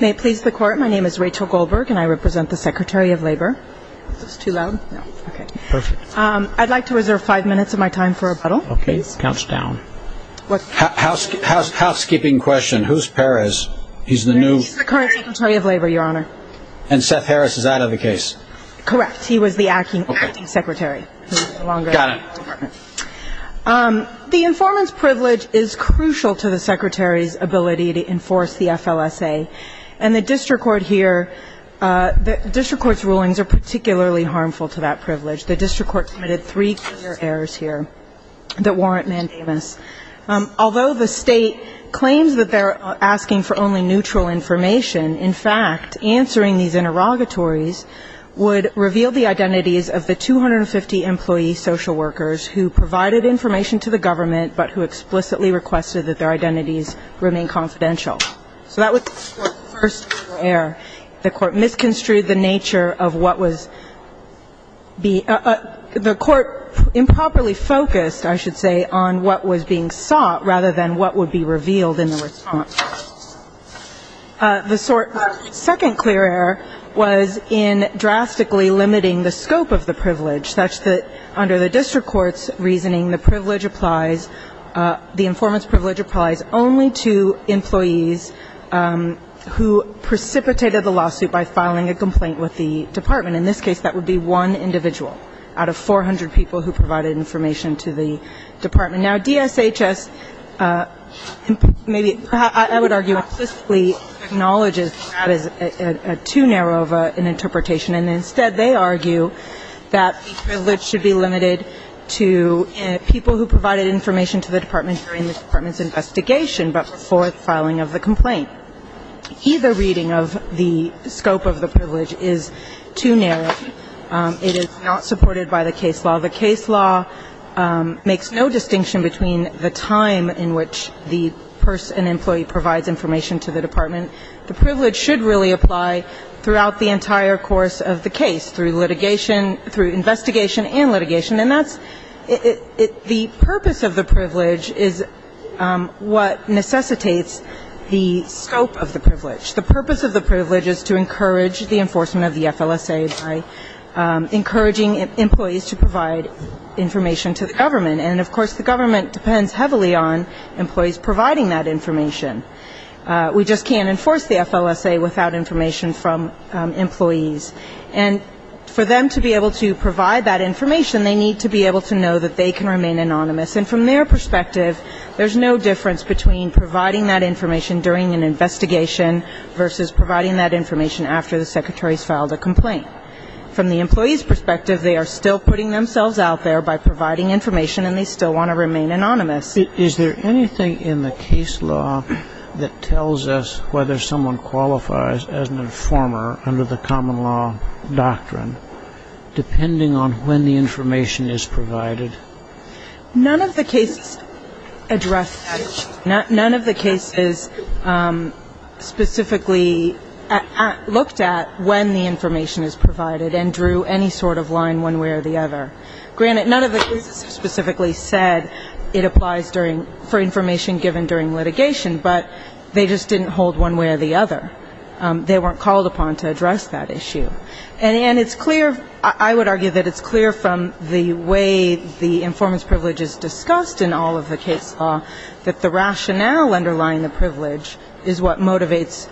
May it please the court my name is Rachel Goldberg and I represent the Secretary of Labor. Is this too loud? I'd like to reserve five minutes of my time for rebuttal. Okay, it counts down. Housekeeping question, who's Perez? He's the new... He's the current Secretary of Labor, your honor. And Seth Harris is out of the case? Correct, he was the acting secretary. The informants privilege is a privilege. And the district court here, the district court's rulings are particularly harmful to that privilege. The district court committed three major errors here that warrant mandamus. Although the state claims that they're asking for only neutral information, in fact, answering these interrogatories would reveal the identities of the 250 employee social workers who provided information to the government but who explicitly requested that their identities remain confidential. So that was the first error. The court misconstrued the nature of what was being the court improperly focused, I should say, on what was being sought rather than what would be revealed in the response. The second clear error was in drastically limiting the scope of the privilege, such that under the district court's reasoning the privilege applies, the informants privilege applies only to employees who precipitated the lawsuit by filing a complaint with the department. In this case, that would be one individual out of 400 people who provided information to the department. Now, DSHS maybe, I would argue, explicitly acknowledges that as too narrow of an interpretation. And instead, they argue that the privilege should be limited to people who provided information to the department during the department's investigation but before filing of the complaint. Either reading of the scope of the privilege is too narrow. It is not supported by the case law. The case law makes no distinction between the time in which the person, employee provides information to the department. The privilege should really apply throughout the entire course of the case through litigation, through investigation and litigation. And that's the purpose of the privilege is what necessitates the scope of the privilege. The purpose of the privilege is to encourage the enforcement of the FLSA by encouraging employees to provide information to the government. And of course, the government depends heavily on employees providing that information. We just can't enforce the FLSA without information from employees. And for them to be able to provide that information, they need to be able to know that they can remain anonymous. And from their perspective, there's no difference between providing that information during an investigation versus providing that information after the secretary's filed a complaint. From the employee's perspective, they are still putting themselves out there by providing information and they still want to remain anonymous. Is there anything in the case law that tells us whether someone qualifies as an informer under the common law doctrine, depending on when the information is provided? None of the cases address that. None of the cases specifically looked at when the information is provided and drew any sort of line one way or the other. Granted, none of the cases specifically said it applies for information given during litigation, but they just didn't hold one way or the other. They weren't called upon to address that issue. And it's clear, I would argue that it's clear from the way the informant's privilege is discussed in all of the case law, that the rationale underlying the privilege is what motivates,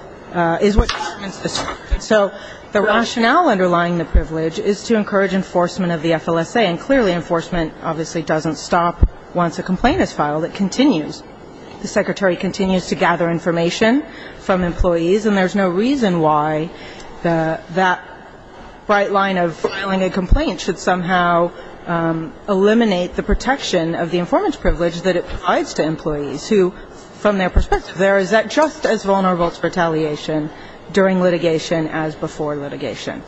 is what determines the statute. So the rationale underlying the privilege is to encourage enforcement of the FLSA, and clearly enforcement obviously doesn't stop once a complaint is filed. It continues. The secretary continues to gather information from employees, and there's no reason why that bright line of filing a complaint should somehow eliminate the protection of the informant's privilege that it provides to employees who, from their perspective, are just as vulnerable to retaliation during litigation as before litigation.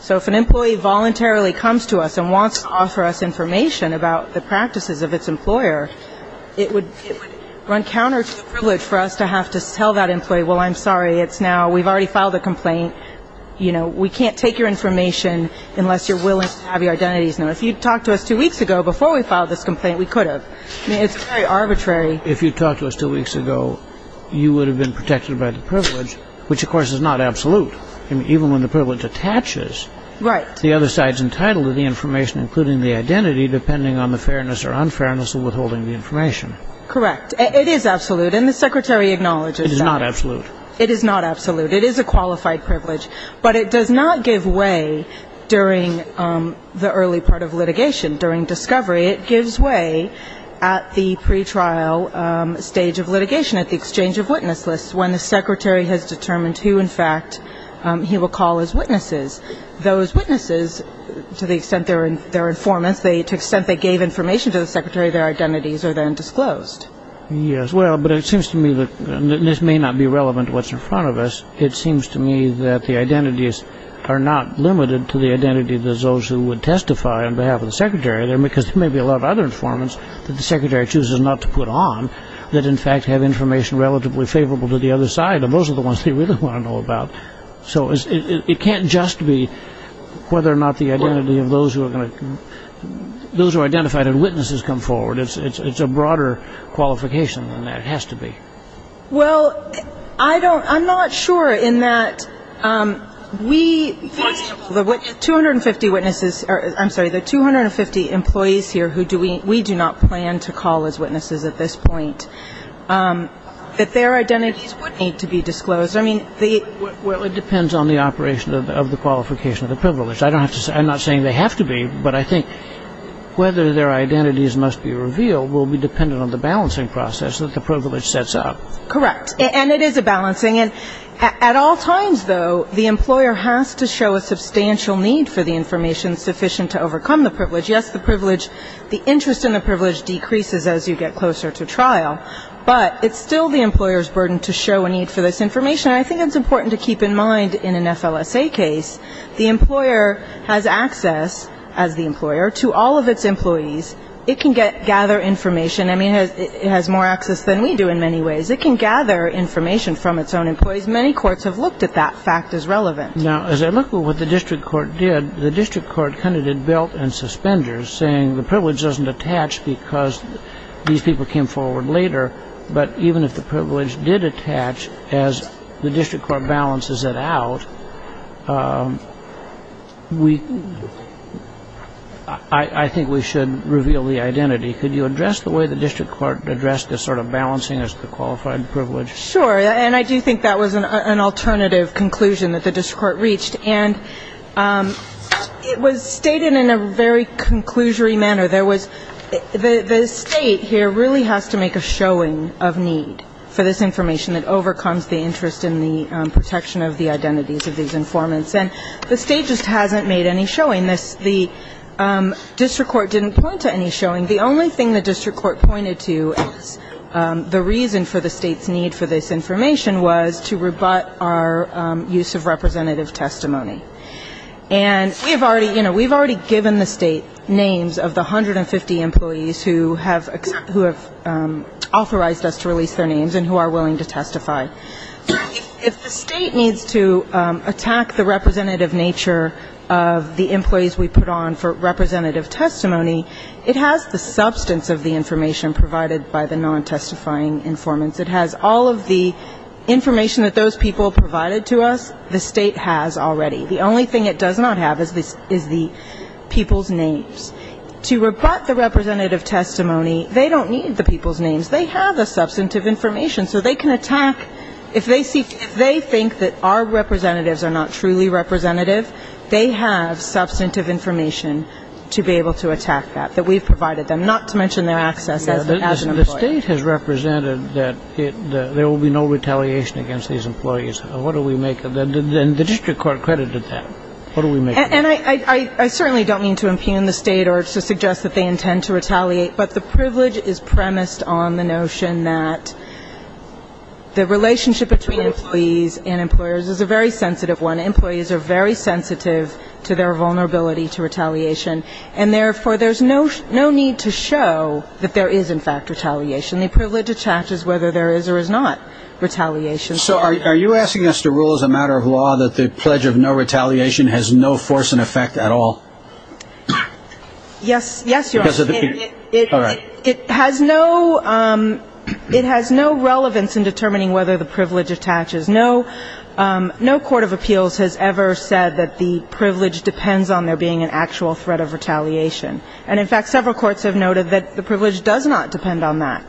So if an employee voluntarily comes to us and wants to offer us information about the practices of its employer, it would run counter to the privilege for us to have to tell that employee, well, I'm sorry, it's now, we've already filed a complaint, you know, we can't take your information unless you're willing to have your identities known. If you'd talked to us two weeks ago before we filed this complaint, we could have. I mean, it's very arbitrary. If you'd talked to us two weeks ago, you would have been protected by the privilege, which of course is not absolute. I mean, even when the privilege attaches, the other side's entitled to the information, including the identity, depending on the fairness or unfairness of withholding the information. Correct. It is absolute, and the secretary acknowledges that. It is not absolute. It is not absolute. It is a qualified privilege. But it does not give way during the early part of litigation, at the exchange of witness lists, when the secretary has determined who, in fact, he will call as witnesses. Those witnesses, to the extent they're informants, to the extent they gave information to the secretary, their identities are then disclosed. Yes. Well, but it seems to me that this may not be relevant to what's in front of us. It seems to me that the identities are not limited to the identity of those who would testify on behalf of the secretary. It seems to me that if the secretary chooses not to put on, that in fact have information relatively favorable to the other side, and those are the ones they really want to know about. So it can't just be whether or not the identity of those who are going to, those who identified as witnesses come forward. It's a broader qualification than that. It has to be. Well, I don't, I'm not sure, in that we, for example, the 250 witnesses, I'm sorry, the 250 employees here who do we, we do not plan to call as witnesses at this point, that their identities would need to be disclosed. I mean, the... Well, it depends on the operation of the qualification of the privilege. I don't have to say, I'm not saying they have to be, but I think whether their identities must be revealed will be dependent on the balancing process that the privilege sets out. Correct. And it is a balancing. And at all times, though, the employer has to show a substantial need for the information sufficient to overcome the privilege. Yes, the privilege, the interest in the privilege decreases as you get closer to trial, but it's still the employer's burden to show a need for this information. And I think it's important to keep in mind in an FLSA case, the employer has access, as the employer, to all of its employees. It can gather information. I mean, it has more access than we do in many ways. It can gather information from its own employees. Many courts have looked at that fact as relevant. Now, as I look at what the district court did, the district court kind of did belt and suspenders, saying the privilege doesn't attach because these people came forward later, but even if the privilege did attach, as the district court balances it out, we, I think we should reveal the identity. Could you address the way the district court addressed this sort of balancing as to qualified privilege? Sure. And I do think that was an alternative conclusion that the district court reached. And it was stated in a very conclusory manner. There was the State here really has to make a showing of need for this information that overcomes the interest in the protection of the identities of these informants. And the State just hasn't made any showing. The district court didn't point to any showing. The only thing the district court pointed to as the reason for the State's need for this information was to rebut our use of representative testimony. And we've already, you know, we've already given the State names of the 150 employees who have authorized us to release their names and who are willing to testify. If the State needs to attack the representative nature of the employees we put on for representative testimony, it has the substance of the information provided by the non-testifying informants. It has all of the information that those people provided to us. The State has already. The only thing it does not have is the people's names. To rebut the representative testimony, they don't need the people's names. They have the substantive information. So they can attack, if they think that our representatives are not truly representative, they have substantive information to be able to attack that, that we've provided them, not to mention their access as an employee. The State has represented that there will be no retaliation against these employees. What do we make of that? And the district court credited that. What do we make of that? And I certainly don't mean to impugn the State or to suggest that they intend to retaliate, but the privilege is premised on the notion that the relationship between employees and employers is a very sensitive one. Employees are very sensitive to their vulnerability to retaliation, and therefore there's no need to show that there is, in fact, retaliation. The privilege attaches whether there is or is not retaliation. So are you asking us to rule as a matter of law that the pledge of no retaliation has no force and effect at all? Yes. Yes, Your Honor. All right. It has no relevance in determining whether the privilege attaches. No court of appeals has ever said that the privilege depends on there being an actual threat of retaliation. And in fact, several courts have noted that the privilege does not depend on that.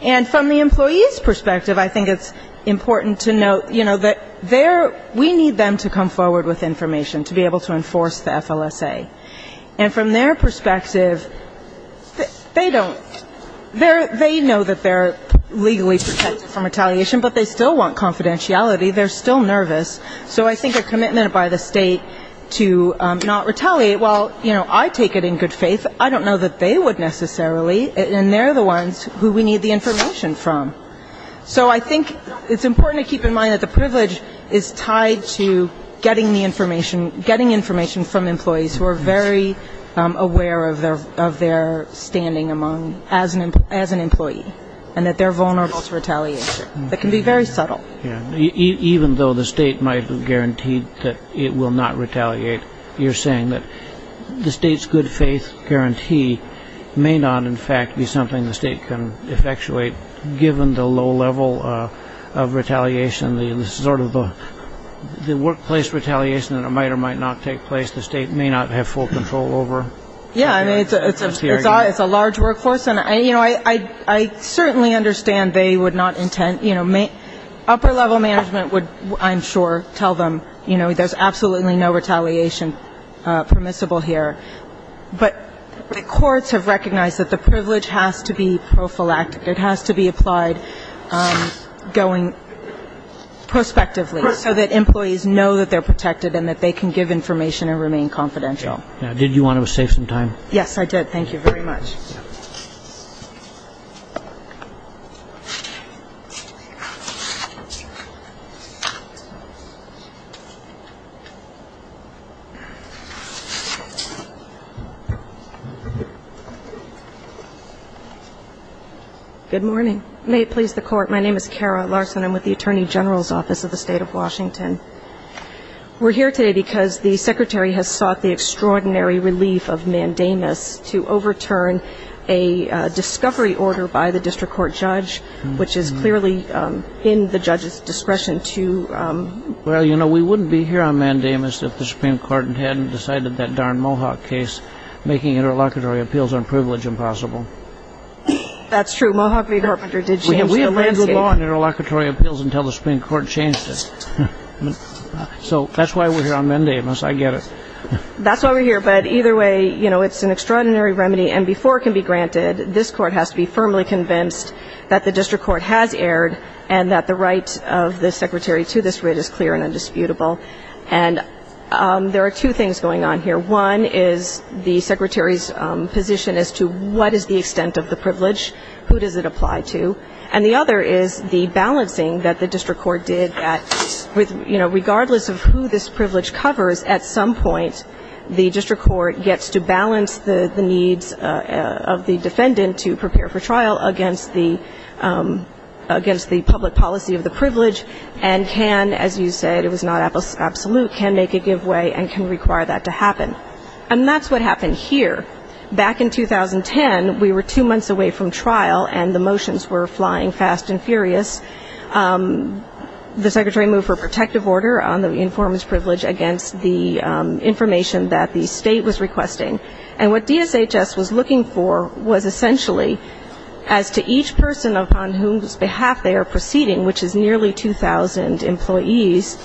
And from the employee's perspective, I think it's important to note, you know, that they're, we need them to come forward with information to be able to enforce the FLSA. And from their perspective, they don't, they know that they're legally protected from retaliation, but they still want confidentiality. They're still nervous. So I think a commitment by the State to not retaliate, well, you know, I take it in good faith. I don't know that they would necessarily, and they're the ones who we need the information from. So I think it's important to keep in mind that the privilege is tied to getting the information, getting information from employees who are very aware of their standing among, as an employee, and that they're vulnerable to retaliation. It can be very subtle. Even though the State might have guaranteed that it will not retaliate, you're saying that the State's good faith guarantee may not, in fact, be something the low level of retaliation, the sort of the workplace retaliation that might or might not take place, the State may not have full control over? Yeah. I mean, it's a large workforce. And, you know, I certainly understand they would not intend, you know, upper-level management would, I'm sure, tell them, you know, there's absolutely no retaliation permissible here. But the job is to keep it going prospectively, so that employees know that they're protected and that they can give information and remain confidential. Did you want to save some time? Yes, I did. Thank you very much. Good morning. May it please the Court, my name is Kara Larson. I'm with the Attorney General's Office of the State of Washington. We're here today because the Secretary has sought the extraordinary relief of Mandamus to overturn a discovery order by the district court judge, which is clearly in the judge's discretion to... Well, you know, we wouldn't be here on Mandamus if the Supreme Court hadn't decided that darn Mohawk case, making interlocutory appeals on privilege impossible. That's true. Mohawk League Arbiter did... We had lands with law in interlocutory appeals until the Supreme Court changed it. So that's why we're here on Mandamus, I get it. That's why we're here, but either way, you know, it's an extraordinary remedy, and before it can be granted, this Court has to be firmly convinced that the district court has erred, and that the right of the Secretary to this writ is clear and indisputable. And there are two things going on here. One is the Secretary's position as to what is the extent of the privilege, who does it, and the other is the balancing that the district court did that, you know, regardless of who this privilege covers, at some point, the district court gets to balance the needs of the defendant to prepare for trial against the public policy of the privilege, and can, as you said, it was not absolute, can make a give way and can require that to happen. And that's what happened here. Back in 2010, we were two months away from getting fast and furious. The Secretary moved for a protective order on the informant's privilege against the information that the State was requesting. And what DSHS was looking for was essentially as to each person upon whose behalf they are proceeding, which is nearly 2,000 employees,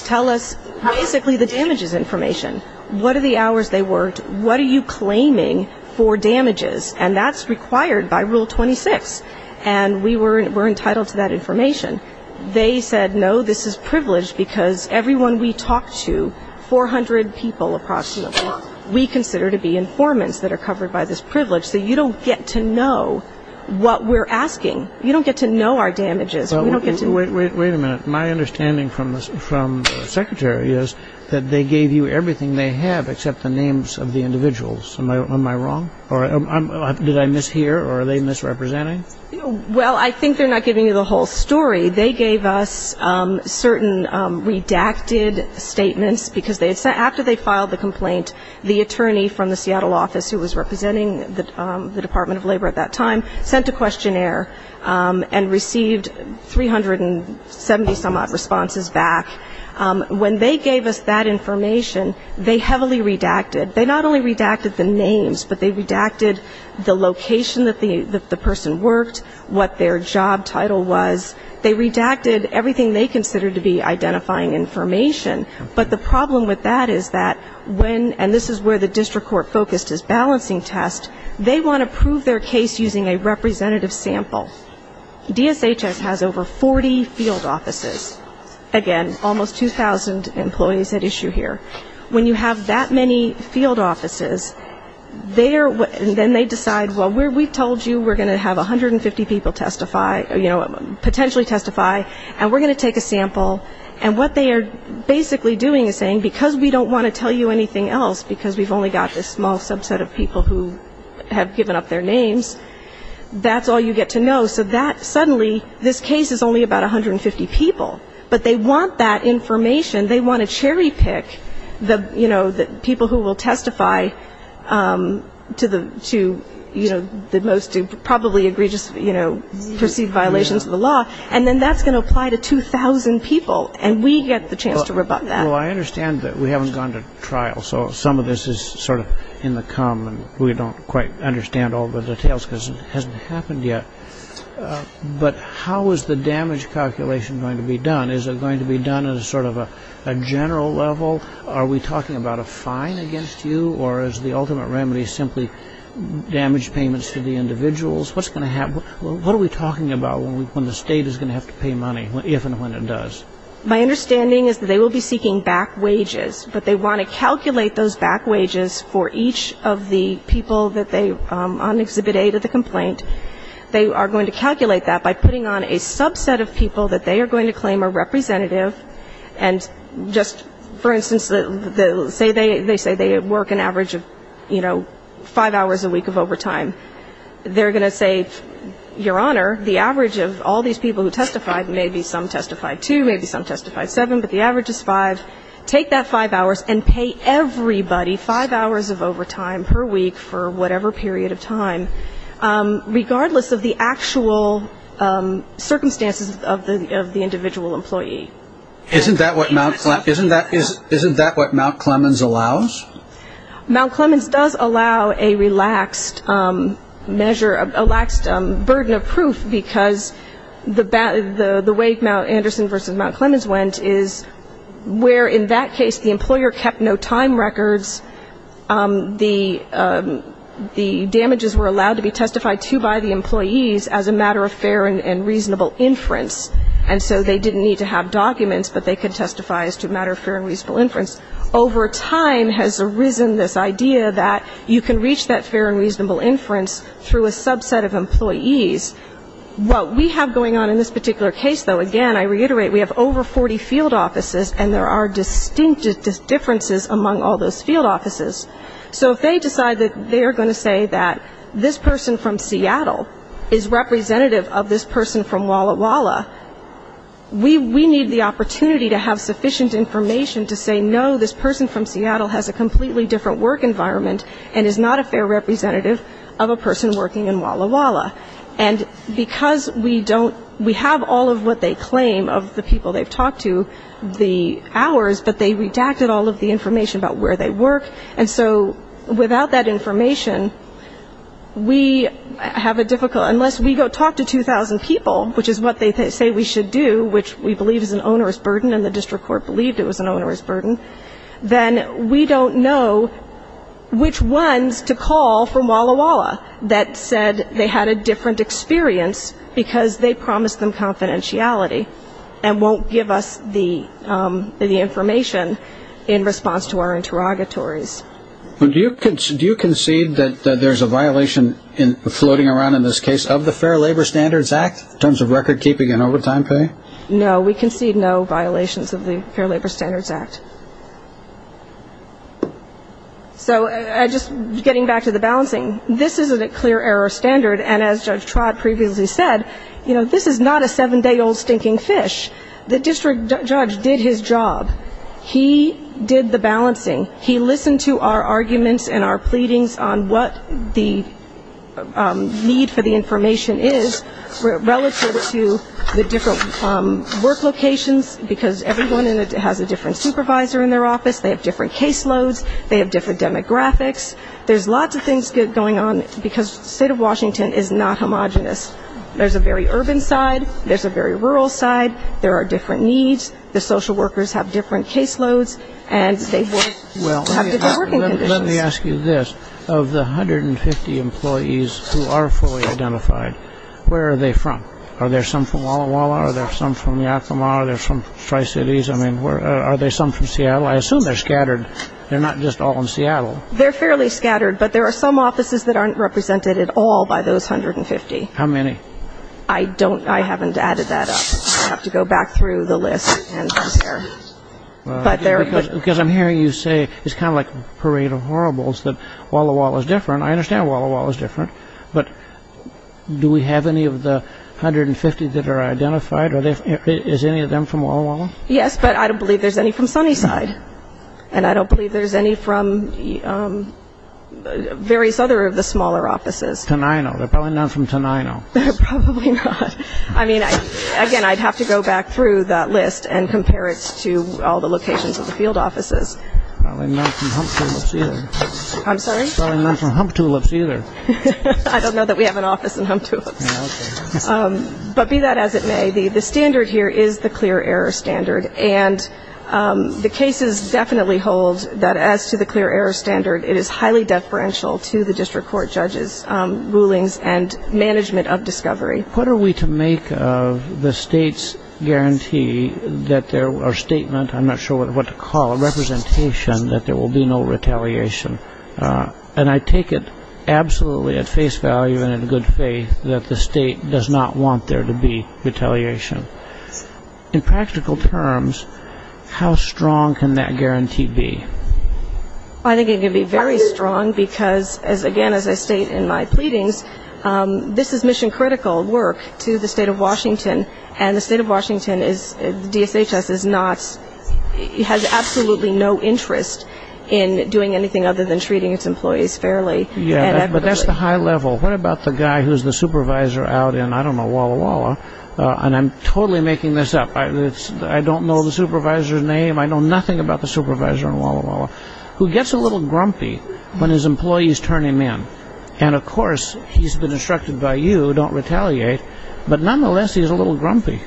tell us basically the damages information. What are the hours they worked? What are you claiming for damages? And that's required by Rule 26. And we were required to provide that information to the State. They said, no, this is privilege, because everyone we talked to, 400 people approximately, we consider to be informants that are covered by this privilege. So you don't get to know what we're asking. You don't get to know our damages. We don't get to know. Wait a minute. My understanding from the Secretary is that they gave you everything they have except the names of the individuals. Am I wrong? Or did I mishear? Or are they misrepresenting? Well, I think they're not giving you the whole story. They gave us certain redacted statements, because after they filed the complaint, the attorney from the Seattle office, who was representing the Department of Labor at that time, sent a questionnaire and received 370-some-odd responses back. When they gave us that information, they heavily redacted. They not only redacted the names, but they redacted the location that the person worked, what their job was, what their job title was. They redacted everything they considered to be identifying information. But the problem with that is that when, and this is where the district court focused its balancing test, they want to prove their case using a representative sample. DSHS has over 40 field offices. Again, almost 2,000 employees at issue here. When you have that many field offices, they're, then they decide, well, we told you we're going to have 150 people testify, and we're going to take a sample, and what they are basically doing is saying, because we don't want to tell you anything else, because we've only got this small subset of people who have given up their names, that's all you get to know. So that, suddenly, this case is only about 150 people. But they want that information. They want to cherry pick, you know, the people who will testify to the most probably egregious, you know, perceived violence. And then that's going to apply to 2,000 people, and we get the chance to rebut that. So, what do you think about when the state is going to have to pay money, if and when it does? My understanding is they will be seeking back wages, but they want to calculate those back wages for each of the people that they, on Exhibit A to the complaint. They are going to calculate that by putting on a subset of people that they are going to claim are representative, and just, for instance, say they say they work an average of, you know, five hours a week of overtime. They are going to say, Your Honor, the average of all these people who testified, maybe some testified two, maybe some testified seven, but the average is five. Take that five hours and pay everybody five hours of overtime per week for whatever period of time, regardless of the actual circumstances of the individual employee. Isn't that what Mount Clemens allows? Mount Clemens does allow a relaxed measure, a relaxed burden of proof, because the way Mount Anderson versus Mount Clemens went is where, in that case, the employer kept no time records, the damages were allowed to be testified to by the employees as a matter of fair and reasonable inference, and so they didn't need to have documents, but they could testify as to a And so there has arisen this idea that you can reach that fair and reasonable inference through a subset of employees. What we have going on in this particular case, though, again, I reiterate, we have over 40 field offices, and there are distinct differences among all those field offices. So if they decide that they are going to say that this person from Seattle is from a completely different work environment and is not a fair representative of a person working in Walla Walla, and because we don't, we have all of what they claim of the people they've talked to, the hours, but they redacted all of the information about where they work, and so without that information, we have a difficult, unless we go talk to 2,000 people, which is what they say we should do, which we believe is an onerous burden and the district court believed it was an onerous burden, then we don't know which ones to call from Walla Walla that said they had a different experience because they promised them confidentiality and won't give us the information in response to our interrogatories. Do you concede that there's a violation floating around in this case of the Fair Labor Standards Act in terms of record keeping and overtime pay? No, we concede no violations of the Fair Labor Standards Act. So just getting back to the balancing, this isn't a clear error standard, and as Judge Trott previously said, this is not a seven-day-old stinking fish. The district judge did his job. He did the balancing. He listened to our arguments and our pleadings on what the need for the information is relative to the district court. We have different work locations because everyone has a different supervisor in their office. They have different caseloads. They have different demographics. There's lots of things going on because the state of Washington is not homogenous. There's a very urban side. There's a very rural side. There are different needs. The social workers have different caseloads and they have different working conditions. Let me ask you this. Of the 150 employees who are fully identified, where are they from? Are there some from Walla Walla? Are there some from Yakima? Are there some from Tri-Cities? I mean, are there some from Seattle? I assume they're scattered. They're not just all in Seattle. They're fairly scattered, but there are some offices that aren't represented at all by those 150. How many? I don't know. I haven't added that up. I'd have to go back through the list and compare. Because I'm hearing you say it's kind of like a parade of horribles that Walla Walla is different. I understand Walla Walla is different. But do we have any of the 150 that are identified? Is any of them from Walla Walla? Yes, but I don't believe there's any from Sunnyside. And I don't believe there's any from various other of the smaller offices. Tonino. There's probably none from Tonino. Probably not. I mean, again, I'd have to go back through that list and compare it to all the locations of the field offices. Probably not from Hump Tulips either. I'm sorry? Probably not from Hump Tulips either. I don't know that we have an office in Hump Tulips. But be that as it may, the standard here is the clear error standard. And the cases definitely hold that as to the clear error standard, it is highly deferential to the district court judges' rulings and management of discovery. What are we to make of the state's guarantee or statement, I'm not sure what to call it, representation that there will be no retaliation? And I take it absolutely at face value and in good faith that the state does not want there to be retaliation. In practical terms, how strong can that guarantee be? I think it can be very strong because, again, as I state in my pleadings, this is mission critical work to the state of Washington, and the state of Washington is, DSHS is not, has absolutely no interest in doing anything other than treating its employees fairly and equitably. But that's the high level. What about the guy who's the supervisor out in, I don't know, Walla Walla, and I'm totally making this up, I don't know the supervisor's name, I know nothing about the supervisor in Walla Walla, who gets a little grumpy when his employees turn him in. And, of course, he's been instructed by you, don't retaliate, but nonetheless he's a little grumpy.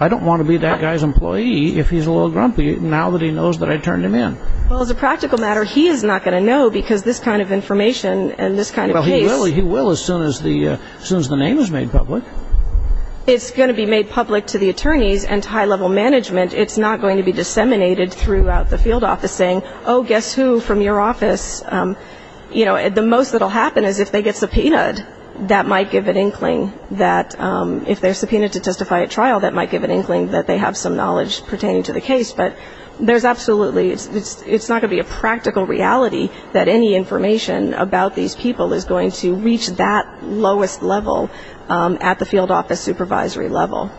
I don't want to be that guy's employee if he's a little grumpy now that he knows that I turned him in. Well, as a practical matter, he is not going to know because this kind of information and this kind of case... Well, he will as soon as the name is made public. It's going to be made public to the attorneys and to high level management. It's not going to be disseminated throughout the field office saying, oh, guess who from your office, you know, the most that will happen is if they get subpoenaed, that might give an inkling that if they're subpoenaed to testify at trial, that might give an inkling that they have some knowledge pertaining to the case. But there's absolutely, it's not going to be a practical reality that any information about these people is going to reach that lowest level at the field office supervisory level.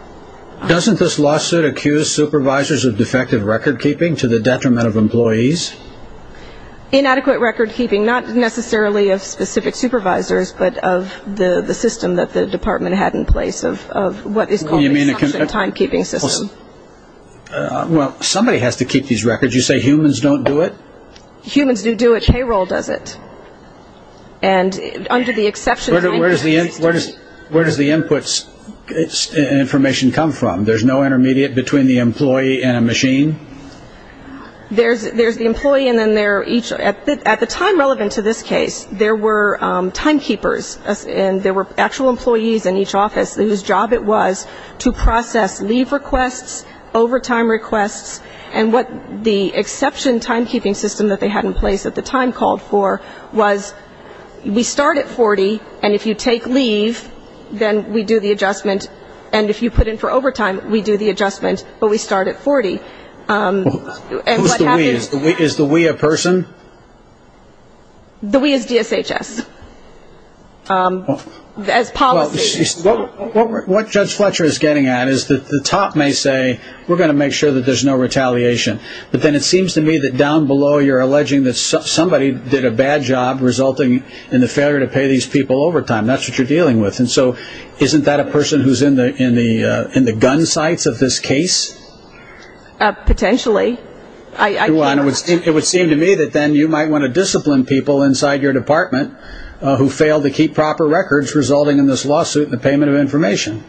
Doesn't this lawsuit accuse supervisors of defective record keeping to the detriment of employees? Inadequate record keeping, not necessarily of specific supervisors, but of the system that the department had in place of what is called the exception time keeping system. Well, somebody has to keep these records. You say humans don't do it? Humans do do it. Payroll does it. And under the exception... Where does the input information come from? There's no intermediate between the employee and a machine? There's the employee and then there are each, at the time relevant to this case, there were time keepers and there were actual employees in each office whose job it was to process leave requests, overtime requests, and what the exception time keeping system that they had in place at the time called for was we start at 40 and if you take leave, then we do the adjustment, and if you put in for overtime, we do the adjustment, but we start at 40. Who's the we? Is the we a person? The we is DSHS as policy. What Judge Fletcher is getting at is that the top may say we're going to make sure that there's no retaliation, but then it seems to me that down below you're alleging that somebody did a bad job resulting in the failure to pay these people overtime. That's what you're dealing with. And so isn't that a person who's in the gun sights of this case? Potentially. It would seem to me that then you might want to discipline people inside your department who failed to keep proper records resulting in this lawsuit and the payment of information.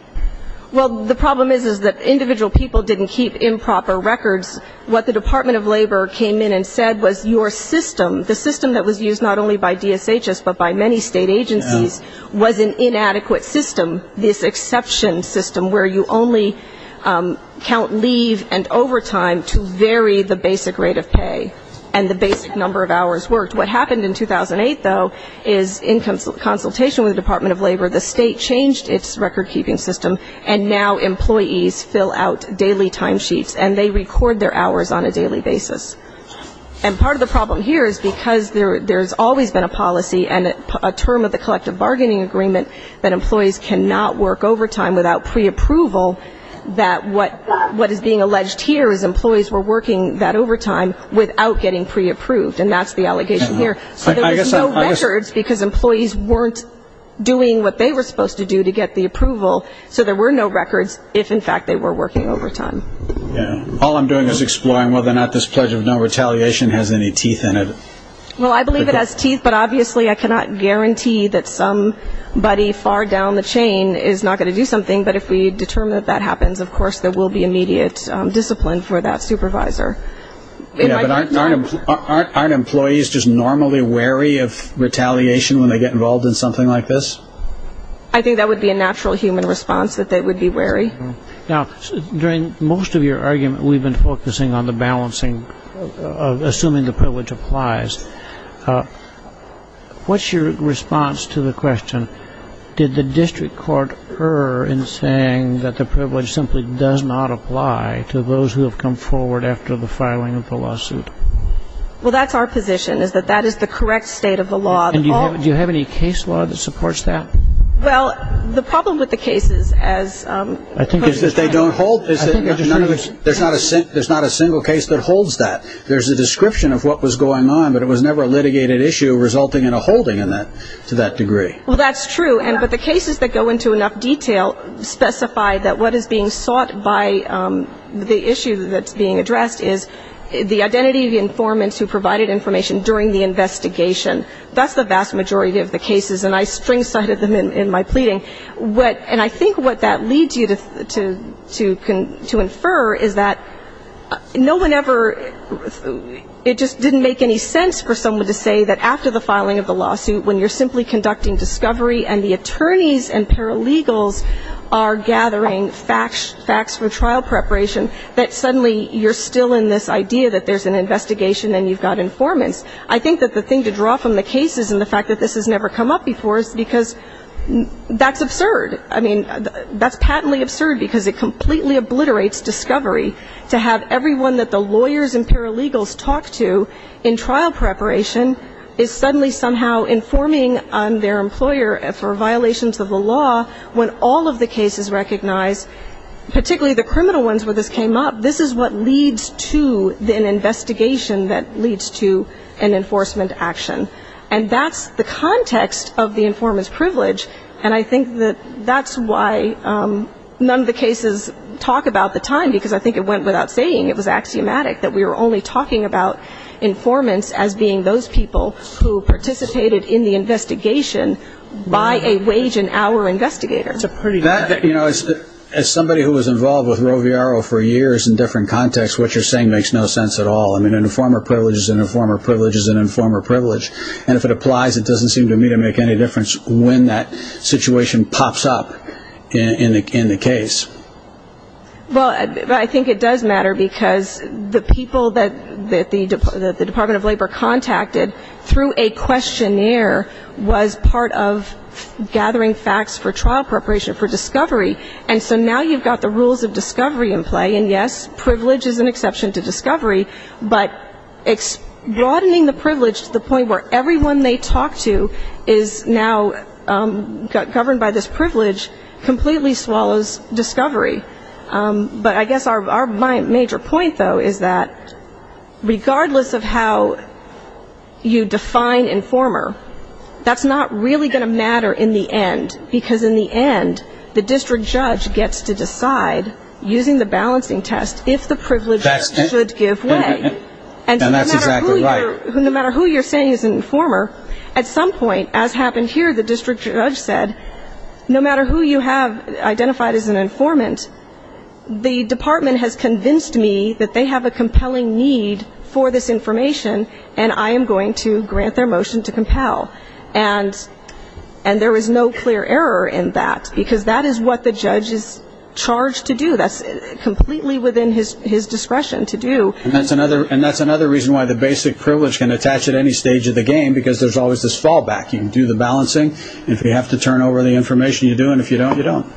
Well, the problem is that individual people didn't keep improper records. What the Department of Labor came in and said was your system, the system that by many state agencies, was an inadequate system, this exception system where you only count leave and overtime to vary the basic rate of pay and the basic number of hours worked. What happened in 2008, though, is in consultation with the Department of Labor, the state changed its record-keeping system, and now employees fill out daily timesheets, and they record their hours on a daily basis. And part of the problem here is because there has always been a policy and a term of the collective bargaining agreement that employees cannot work overtime without preapproval, that what is being alleged here is employees were working that overtime without getting preapproved, and that's the allegation here. So there was no records because employees weren't doing what they were supposed to do to get the approval, so there were no records if, in fact, they were working overtime. All I'm doing is exploring whether or not this Pledge of No Retaliation has any teeth in it. Well, I believe it has teeth, but obviously I cannot guarantee that somebody far down the chain is not going to do something, but if we determine that that happens, of course there will be immediate discipline for that supervisor. Yeah, but aren't employees just normally wary of retaliation when they get involved in something like this? Now, during most of your argument, we've been focusing on the balancing of assuming the privilege applies. What's your response to the question, did the district court err in saying that the privilege simply does not apply to those who have come forward after the filing of the lawsuit? Well, that's our position, is that that is the correct state of the law. And do you have any case law that supports that? Well, the problem with the cases is that they don't hold, there's not a single case that holds that. There's a description of what was going on, but it was never a litigated issue resulting in a holding to that degree. Well, that's true, but the cases that go into enough detail specify that what is being sought by the issue that's being addressed is the identity of the informant who provided information during the investigation. That's the vast majority of the cases, and I string-sided them in my pleading. And I think what that leads you to infer is that no one ever, it just didn't make any sense for someone to say that after the filing of the lawsuit, when you're simply conducting discovery and the attorneys and paralegals are gathering facts from trial preparation, that suddenly you're still in this idea that there's an investigation and you've got informants. I think that the thing to draw from the cases and the fact that this has never come up before is because that's absurd. I mean, that's patently absurd because it completely obliterates discovery, to have everyone that the lawyers and paralegals talk to in trial preparation is suddenly somehow informing their employer for violations of the law when all of the cases recognize, particularly the criminal ones where this came up, this is what leads to an investigation that leads to an enforcement action. And that's the context of the informant's privilege, and I think that that's why none of the cases talk about the time, because I think it went without saying, it was axiomatic that we were only talking about informants as being those people who participated in the investigation by a wage and hour investigator. As somebody who was involved with Roviaro for years in different contexts, what you're saying makes no sense at all. An informer privilege is an informer privilege is an informer privilege. And if it applies, it doesn't seem to me to make any difference when that situation pops up in the case. Well, I think it does matter because the people that the Department of Labor contacted through a questionnaire was part of gathering facts for trial preparation for discovery, and so now you've got the rules of discovery in play. And, yes, privilege is an exception to discovery, but broadening the privilege to the point where everyone they talk to is now governed by this privilege completely swallows discovery. But I guess our major point, though, is that regardless of how you define informer, that's not really going to matter in the end, because in the end, the district judge gets to decide, using the balancing test, if the privilege should give way. And so no matter who you're saying is an informer, at some point, as happened here, the district judge said, no matter who you have identified as an informant, the department has convinced me that they have a compelling need for this information, and I am going to grant their motion to compel. And there is no clear error in that, because that is what the judge is charged to do. That's completely within his discretion to do. And that's another reason why the basic privilege can attach at any stage of the game, because there's always this fallback. You can do the balancing. If you have to turn over the information, you do. And if you don't, you don't.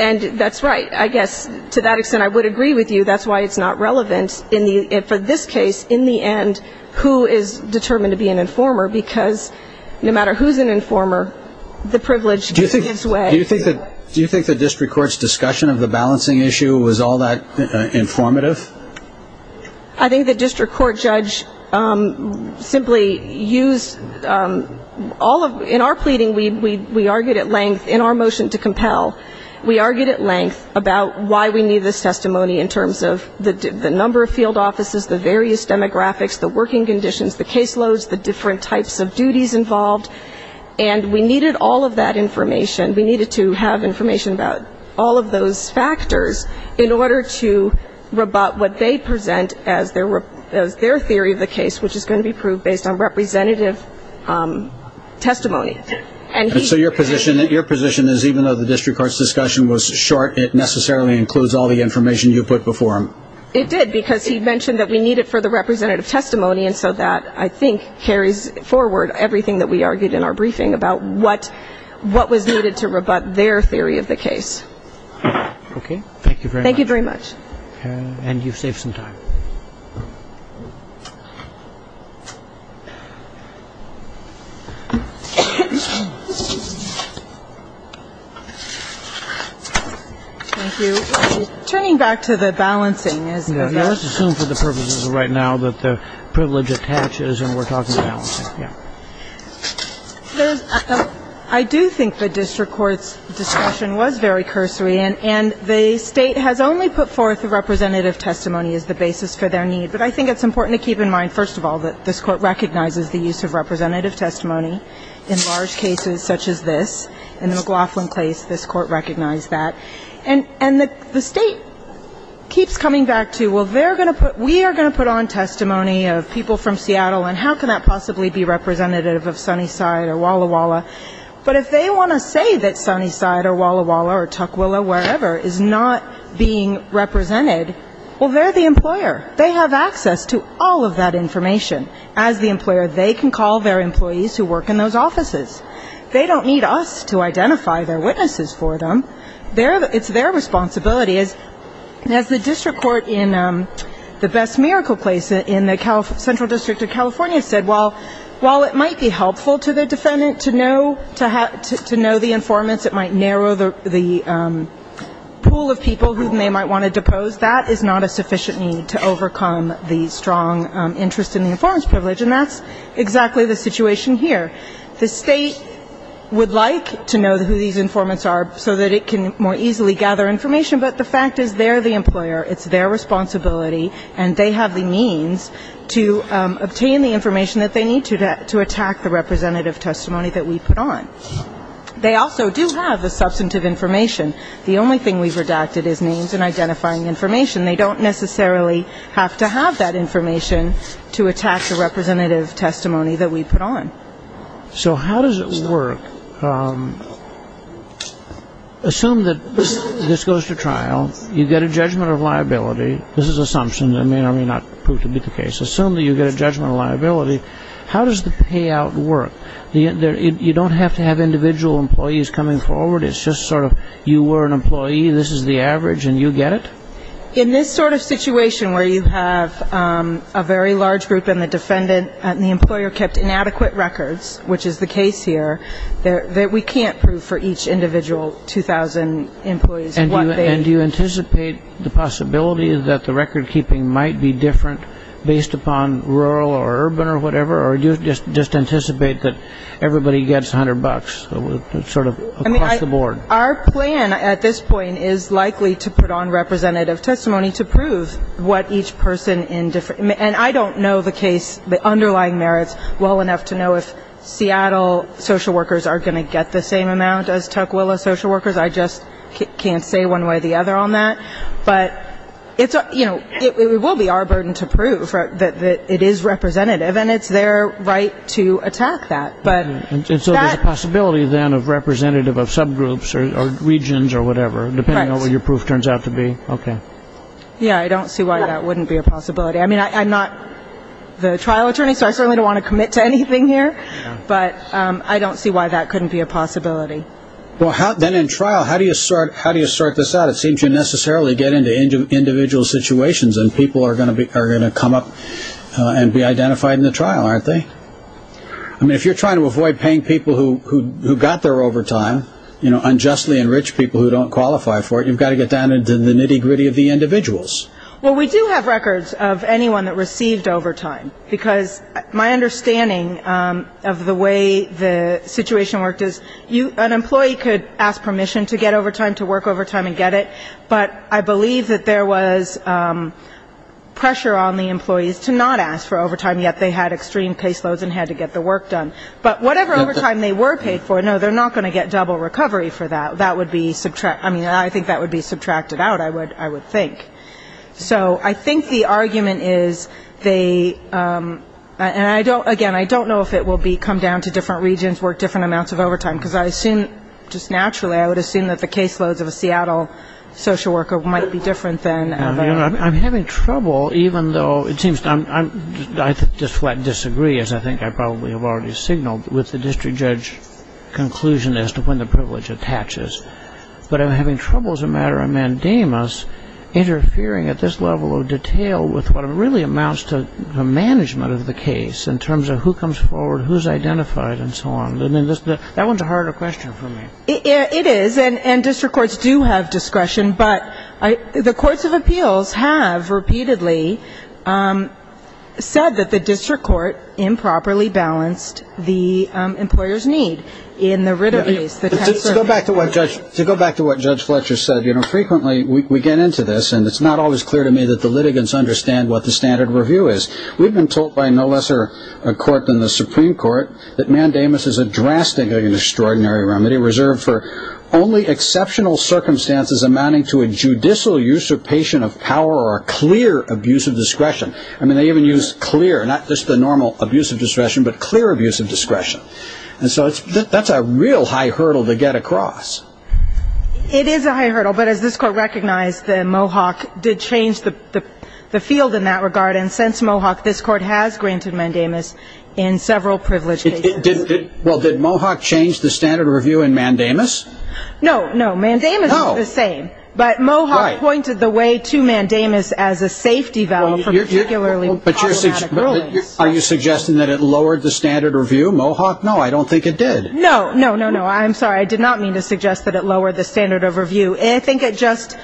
And that's right. I guess to that extent I would agree with you. That's why it's not relevant for this case, in the end, who is determined to be an informer, because no matter who's an informer, the privilege gives way. Do you think the district court's discussion of the balancing issue was all that informative? I think the district court judge simply used all of, in our pleading, we argued at length in our motion to compel, we argued at length about why we need this testimony in terms of the number of field offices, the various demographics, the working conditions, the case loads, the different types of duties involved. And we needed all of that information. We needed to have information about all of those factors in order to rebut what they present as their theory of the case, which is going to be proved based on representative testimony. And so your position is even though the district court's discussion was short, it necessarily includes all the information you put before them? It did, because he mentioned that we need it for the representative testimony, and so that, I think, carries forward everything that we argued in our briefing about what was needed to rebut their theory of the case. Okay. Thank you very much. Thank you very much. And you've saved some time. Thank you. Turning back to the balancing. Let's assume for the purposes of right now that the privilege attaches and we're talking about balancing. I do think the district court's discussion was very cursory, and the State has only put forth the representative testimony as the basis for their need. But I think it's important to keep in mind, first of all, that this Court recognizes the use of representative testimony in large cases such as this. In the McLaughlin case, this Court recognized that. And the State keeps coming back to, well, we are going to put on testimony of people from Seattle, and how can that possibly be representative of Sunnyside or Walla Walla? But if they want to say that Sunnyside or Walla Walla or Tukwila, wherever, is not being represented, well, they're the employer. They have access to all of that information. As the employer, they can call their employees who work in those offices. They don't need us to identify their witnesses for them. It's their responsibility. As the district court in the Best Miracle Place in the Central District of California said, while it might be helpful to the defendant to know the informants, it might narrow the pool of people who they might want to depose, that is not a sufficient need to overcome the strong interest in the informants' privilege. And that's exactly the situation here. The State would like to know who these informants are so that it can more easily gather information, but the fact is they're the employer, it's their responsibility, and they have the means to obtain the information that they need to attack the representative testimony that we put on. They also do have the substantive information. The only thing we've redacted is names and identifying information. They don't necessarily have to have that information to attack the representative testimony that we put on. So how does it work? Assume that this goes to trial. You get a judgment of liability. This is an assumption that may or may not prove to be the case. Assume that you get a judgment of liability. How does the payout work? You don't have to have individual employees coming forward. It's just sort of you were an employee, this is the average, and you get it? In this sort of situation where you have a very large group and the defendant and the employer kept inadequate records, which is the case here, that we can't prove for each individual 2,000 employees what they need. And do you anticipate the possibility that the record keeping might be different based upon rural or urban or whatever? Or do you just anticipate that everybody gets 100 bucks sort of across the board? Our plan at this point is likely to put on representative testimony to prove what each person in different and I don't know the case, the underlying merits, well enough to know if Seattle social workers are going to get the same amount as Tukwila social workers. I just can't say one way or the other on that. But it's, you know, it will be our burden to prove that it is representative and it's their right to attack that. And so there's a possibility then of representative of subgroups or regions or whatever, depending on what your proof turns out to be. Okay. Yeah, I don't see why that wouldn't be a possibility. I mean, I'm not the trial attorney, so I certainly don't want to commit to anything here. But I don't see why that couldn't be a possibility. Well, then in trial, how do you sort this out? It seems you necessarily get into individual situations and people are going to come up and be identified in the trial, aren't they? I mean, if you're trying to avoid paying people who got their overtime, you know, unjustly enrich people who don't qualify for it, you've got to get down into the nitty-gritty of the individuals. Well, we do have records of anyone that received overtime, because my understanding of the way the situation worked is an employee could ask permission to get overtime, to work overtime and get it, but I believe that there was pressure on the employees to not ask for overtime, yet they had extreme caseloads and had to get the work done. But whatever overtime they were paid for, no, they're not going to get double recovery for that. That would be subtracted. I mean, I think that would be subtracted out, I would think. So I think the argument is they, and I don't, again, I don't know if it will come down to different regions work different amounts of overtime, because I assume, just naturally, I would assume that the caseloads of a Seattle social worker might be different than. I'm having trouble, even though it seems, I just flat disagree, as I think I probably have already signaled, with the district judge conclusion as to when the privilege attaches. But I'm having trouble, as a matter of mandamus, interfering at this level of detail with what really amounts to the management of the case in terms of who comes forward, who's identified, and so on. I mean, that one's a harder question for me. It is, and district courts do have discretion. But the courts of appeals have repeatedly said that the district court improperly balanced the employer's need in the Ritter case. To go back to what Judge Fletcher said, you know, frequently we get into this, and it's not always clear to me that the litigants understand what the standard review is. We've been told by no lesser court than the Supreme Court that mandamus is a drastically extraordinary remedy, reserved for only exceptional circumstances amounting to a judicial usurpation of power or a clear abuse of discretion. I mean, they even use clear, not just the normal abuse of discretion, but clear abuse of discretion. And so that's a real high hurdle to get across. It is a high hurdle, but as this court recognized, the Mohawk did change the field in that regard, and since Mohawk, this court has granted mandamus in several privilege cases. Well, did Mohawk change the standard review in mandamus? No, no, mandamus is the same. But Mohawk pointed the way to mandamus as a safety valve for particularly problematic rulings. Are you suggesting that it lowered the standard review? Mohawk, no, I don't think it did. No, no, no, no, I'm sorry. I did not mean to suggest that it lowered the standard of review. I think it just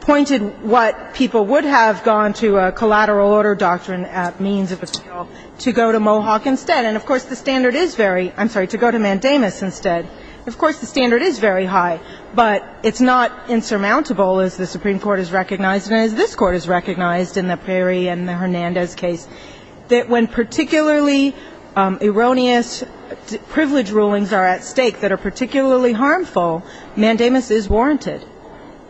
pointed what people would have gone to a collateral order doctrine at means of appeal to go to Mohawk instead. And, of course, the standard is very, I'm sorry, to go to mandamus instead. Of course, the standard is very high, but it's not insurmountable, as the Supreme Court has recognized and as this court has recognized in the Perry and the Hernandez case, that when particularly erroneous privilege rulings are at stake that are particularly harmful, mandamus is warranted.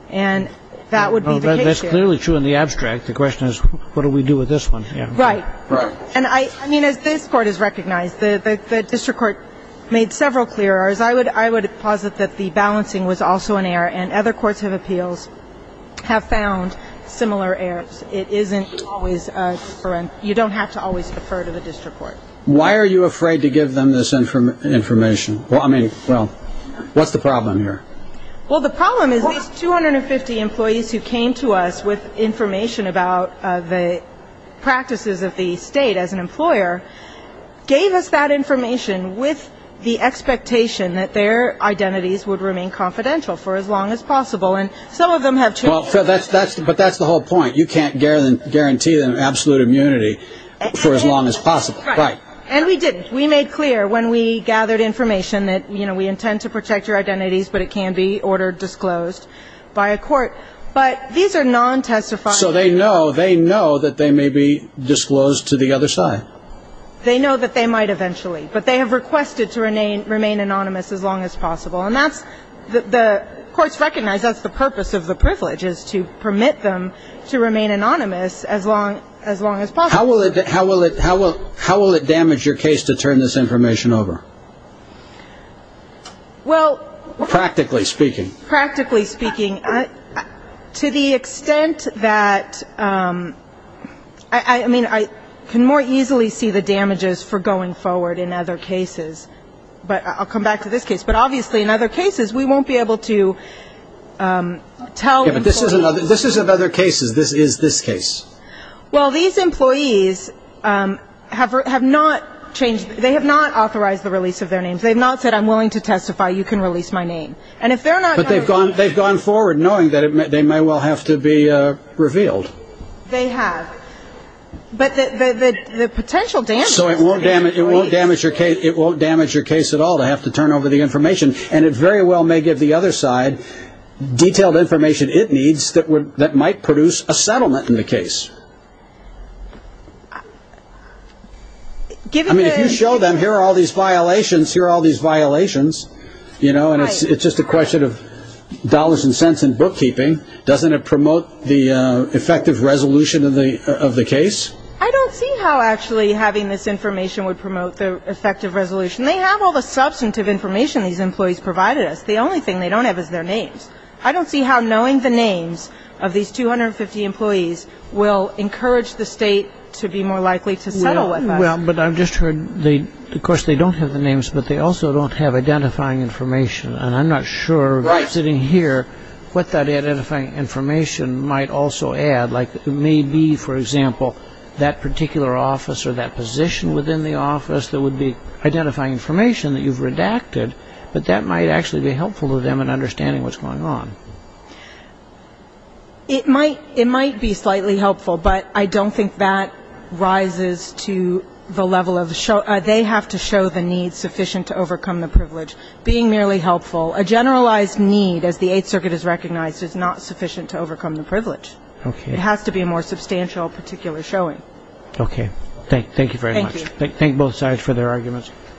And that would be the case here. That's clearly true in the abstract. The question is, what do we do with this one? Right. Right. And, I mean, as this court has recognized, the district court made several clear errors. I would posit that the balancing was also an error, and other courts of appeals have found similar errors. It isn't always a difference. You don't have to always defer to the district court. Why are you afraid to give them this information? Well, I mean, well, what's the problem here? Well, the problem is these 250 employees who came to us with information about the practices of the state as an employer gave us that information with the expectation that their identities would remain confidential for as long as possible. And some of them have changed that. But that's the whole point. You can't guarantee them absolute immunity for as long as possible. Right. And we didn't. We made clear when we gathered information that, you know, we intend to protect your identities, but it can be ordered disclosed by a court. But these are non-testifying. So they know, they know that they may be disclosed to the other side. They know that they might eventually. But they have requested to remain anonymous as long as possible. And that's, the courts recognize that's the purpose of the privilege, is to permit them to remain anonymous as long as possible. How will it, how will it, how will it damage your case to turn this information over? Well. Practically speaking. Practically speaking. To the extent that, I mean, I can more easily see the damages for going forward in other cases. But I'll come back to this case. But obviously in other cases we won't be able to tell employees. Yeah, but this is another case. This is this case. Well, these employees have not changed, they have not authorized the release of their names. They have not said I'm willing to testify. You can release my name. And if they're not going to release. But they've gone forward knowing that they may well have to be revealed. They have. But the potential damages. So it won't damage your case. It won't damage your case at all to have to turn over the information. And it very well may give the other side detailed information it needs that might produce a settlement in the case. I mean, if you show them here are all these violations, here are all these violations. You know, and it's just a question of dollars and cents and bookkeeping. Doesn't it promote the effective resolution of the case? I don't see how actually having this information would promote the effective resolution. They have all the substantive information these employees provided us. The only thing they don't have is their names. I don't see how knowing the names of these 250 employees will encourage the state to be more likely to settle with us. Well, but I've just heard, of course, they don't have the names, but they also don't have identifying information. And I'm not sure sitting here what that identifying information might also add. Like maybe, for example, that particular office or that position within the office that would be identifying information that you've redacted, but that might actually be helpful to them in understanding what's going on. It might be slightly helpful, but I don't think that rises to the level of they have to show the need sufficient to overcome the privilege. Being merely helpful, a generalized need, as the Eighth Circuit has recognized, is not sufficient to overcome the privilege. It has to be a more substantial particular showing. Okay. Thank you very much. Thank you. Thank both sides for their arguments.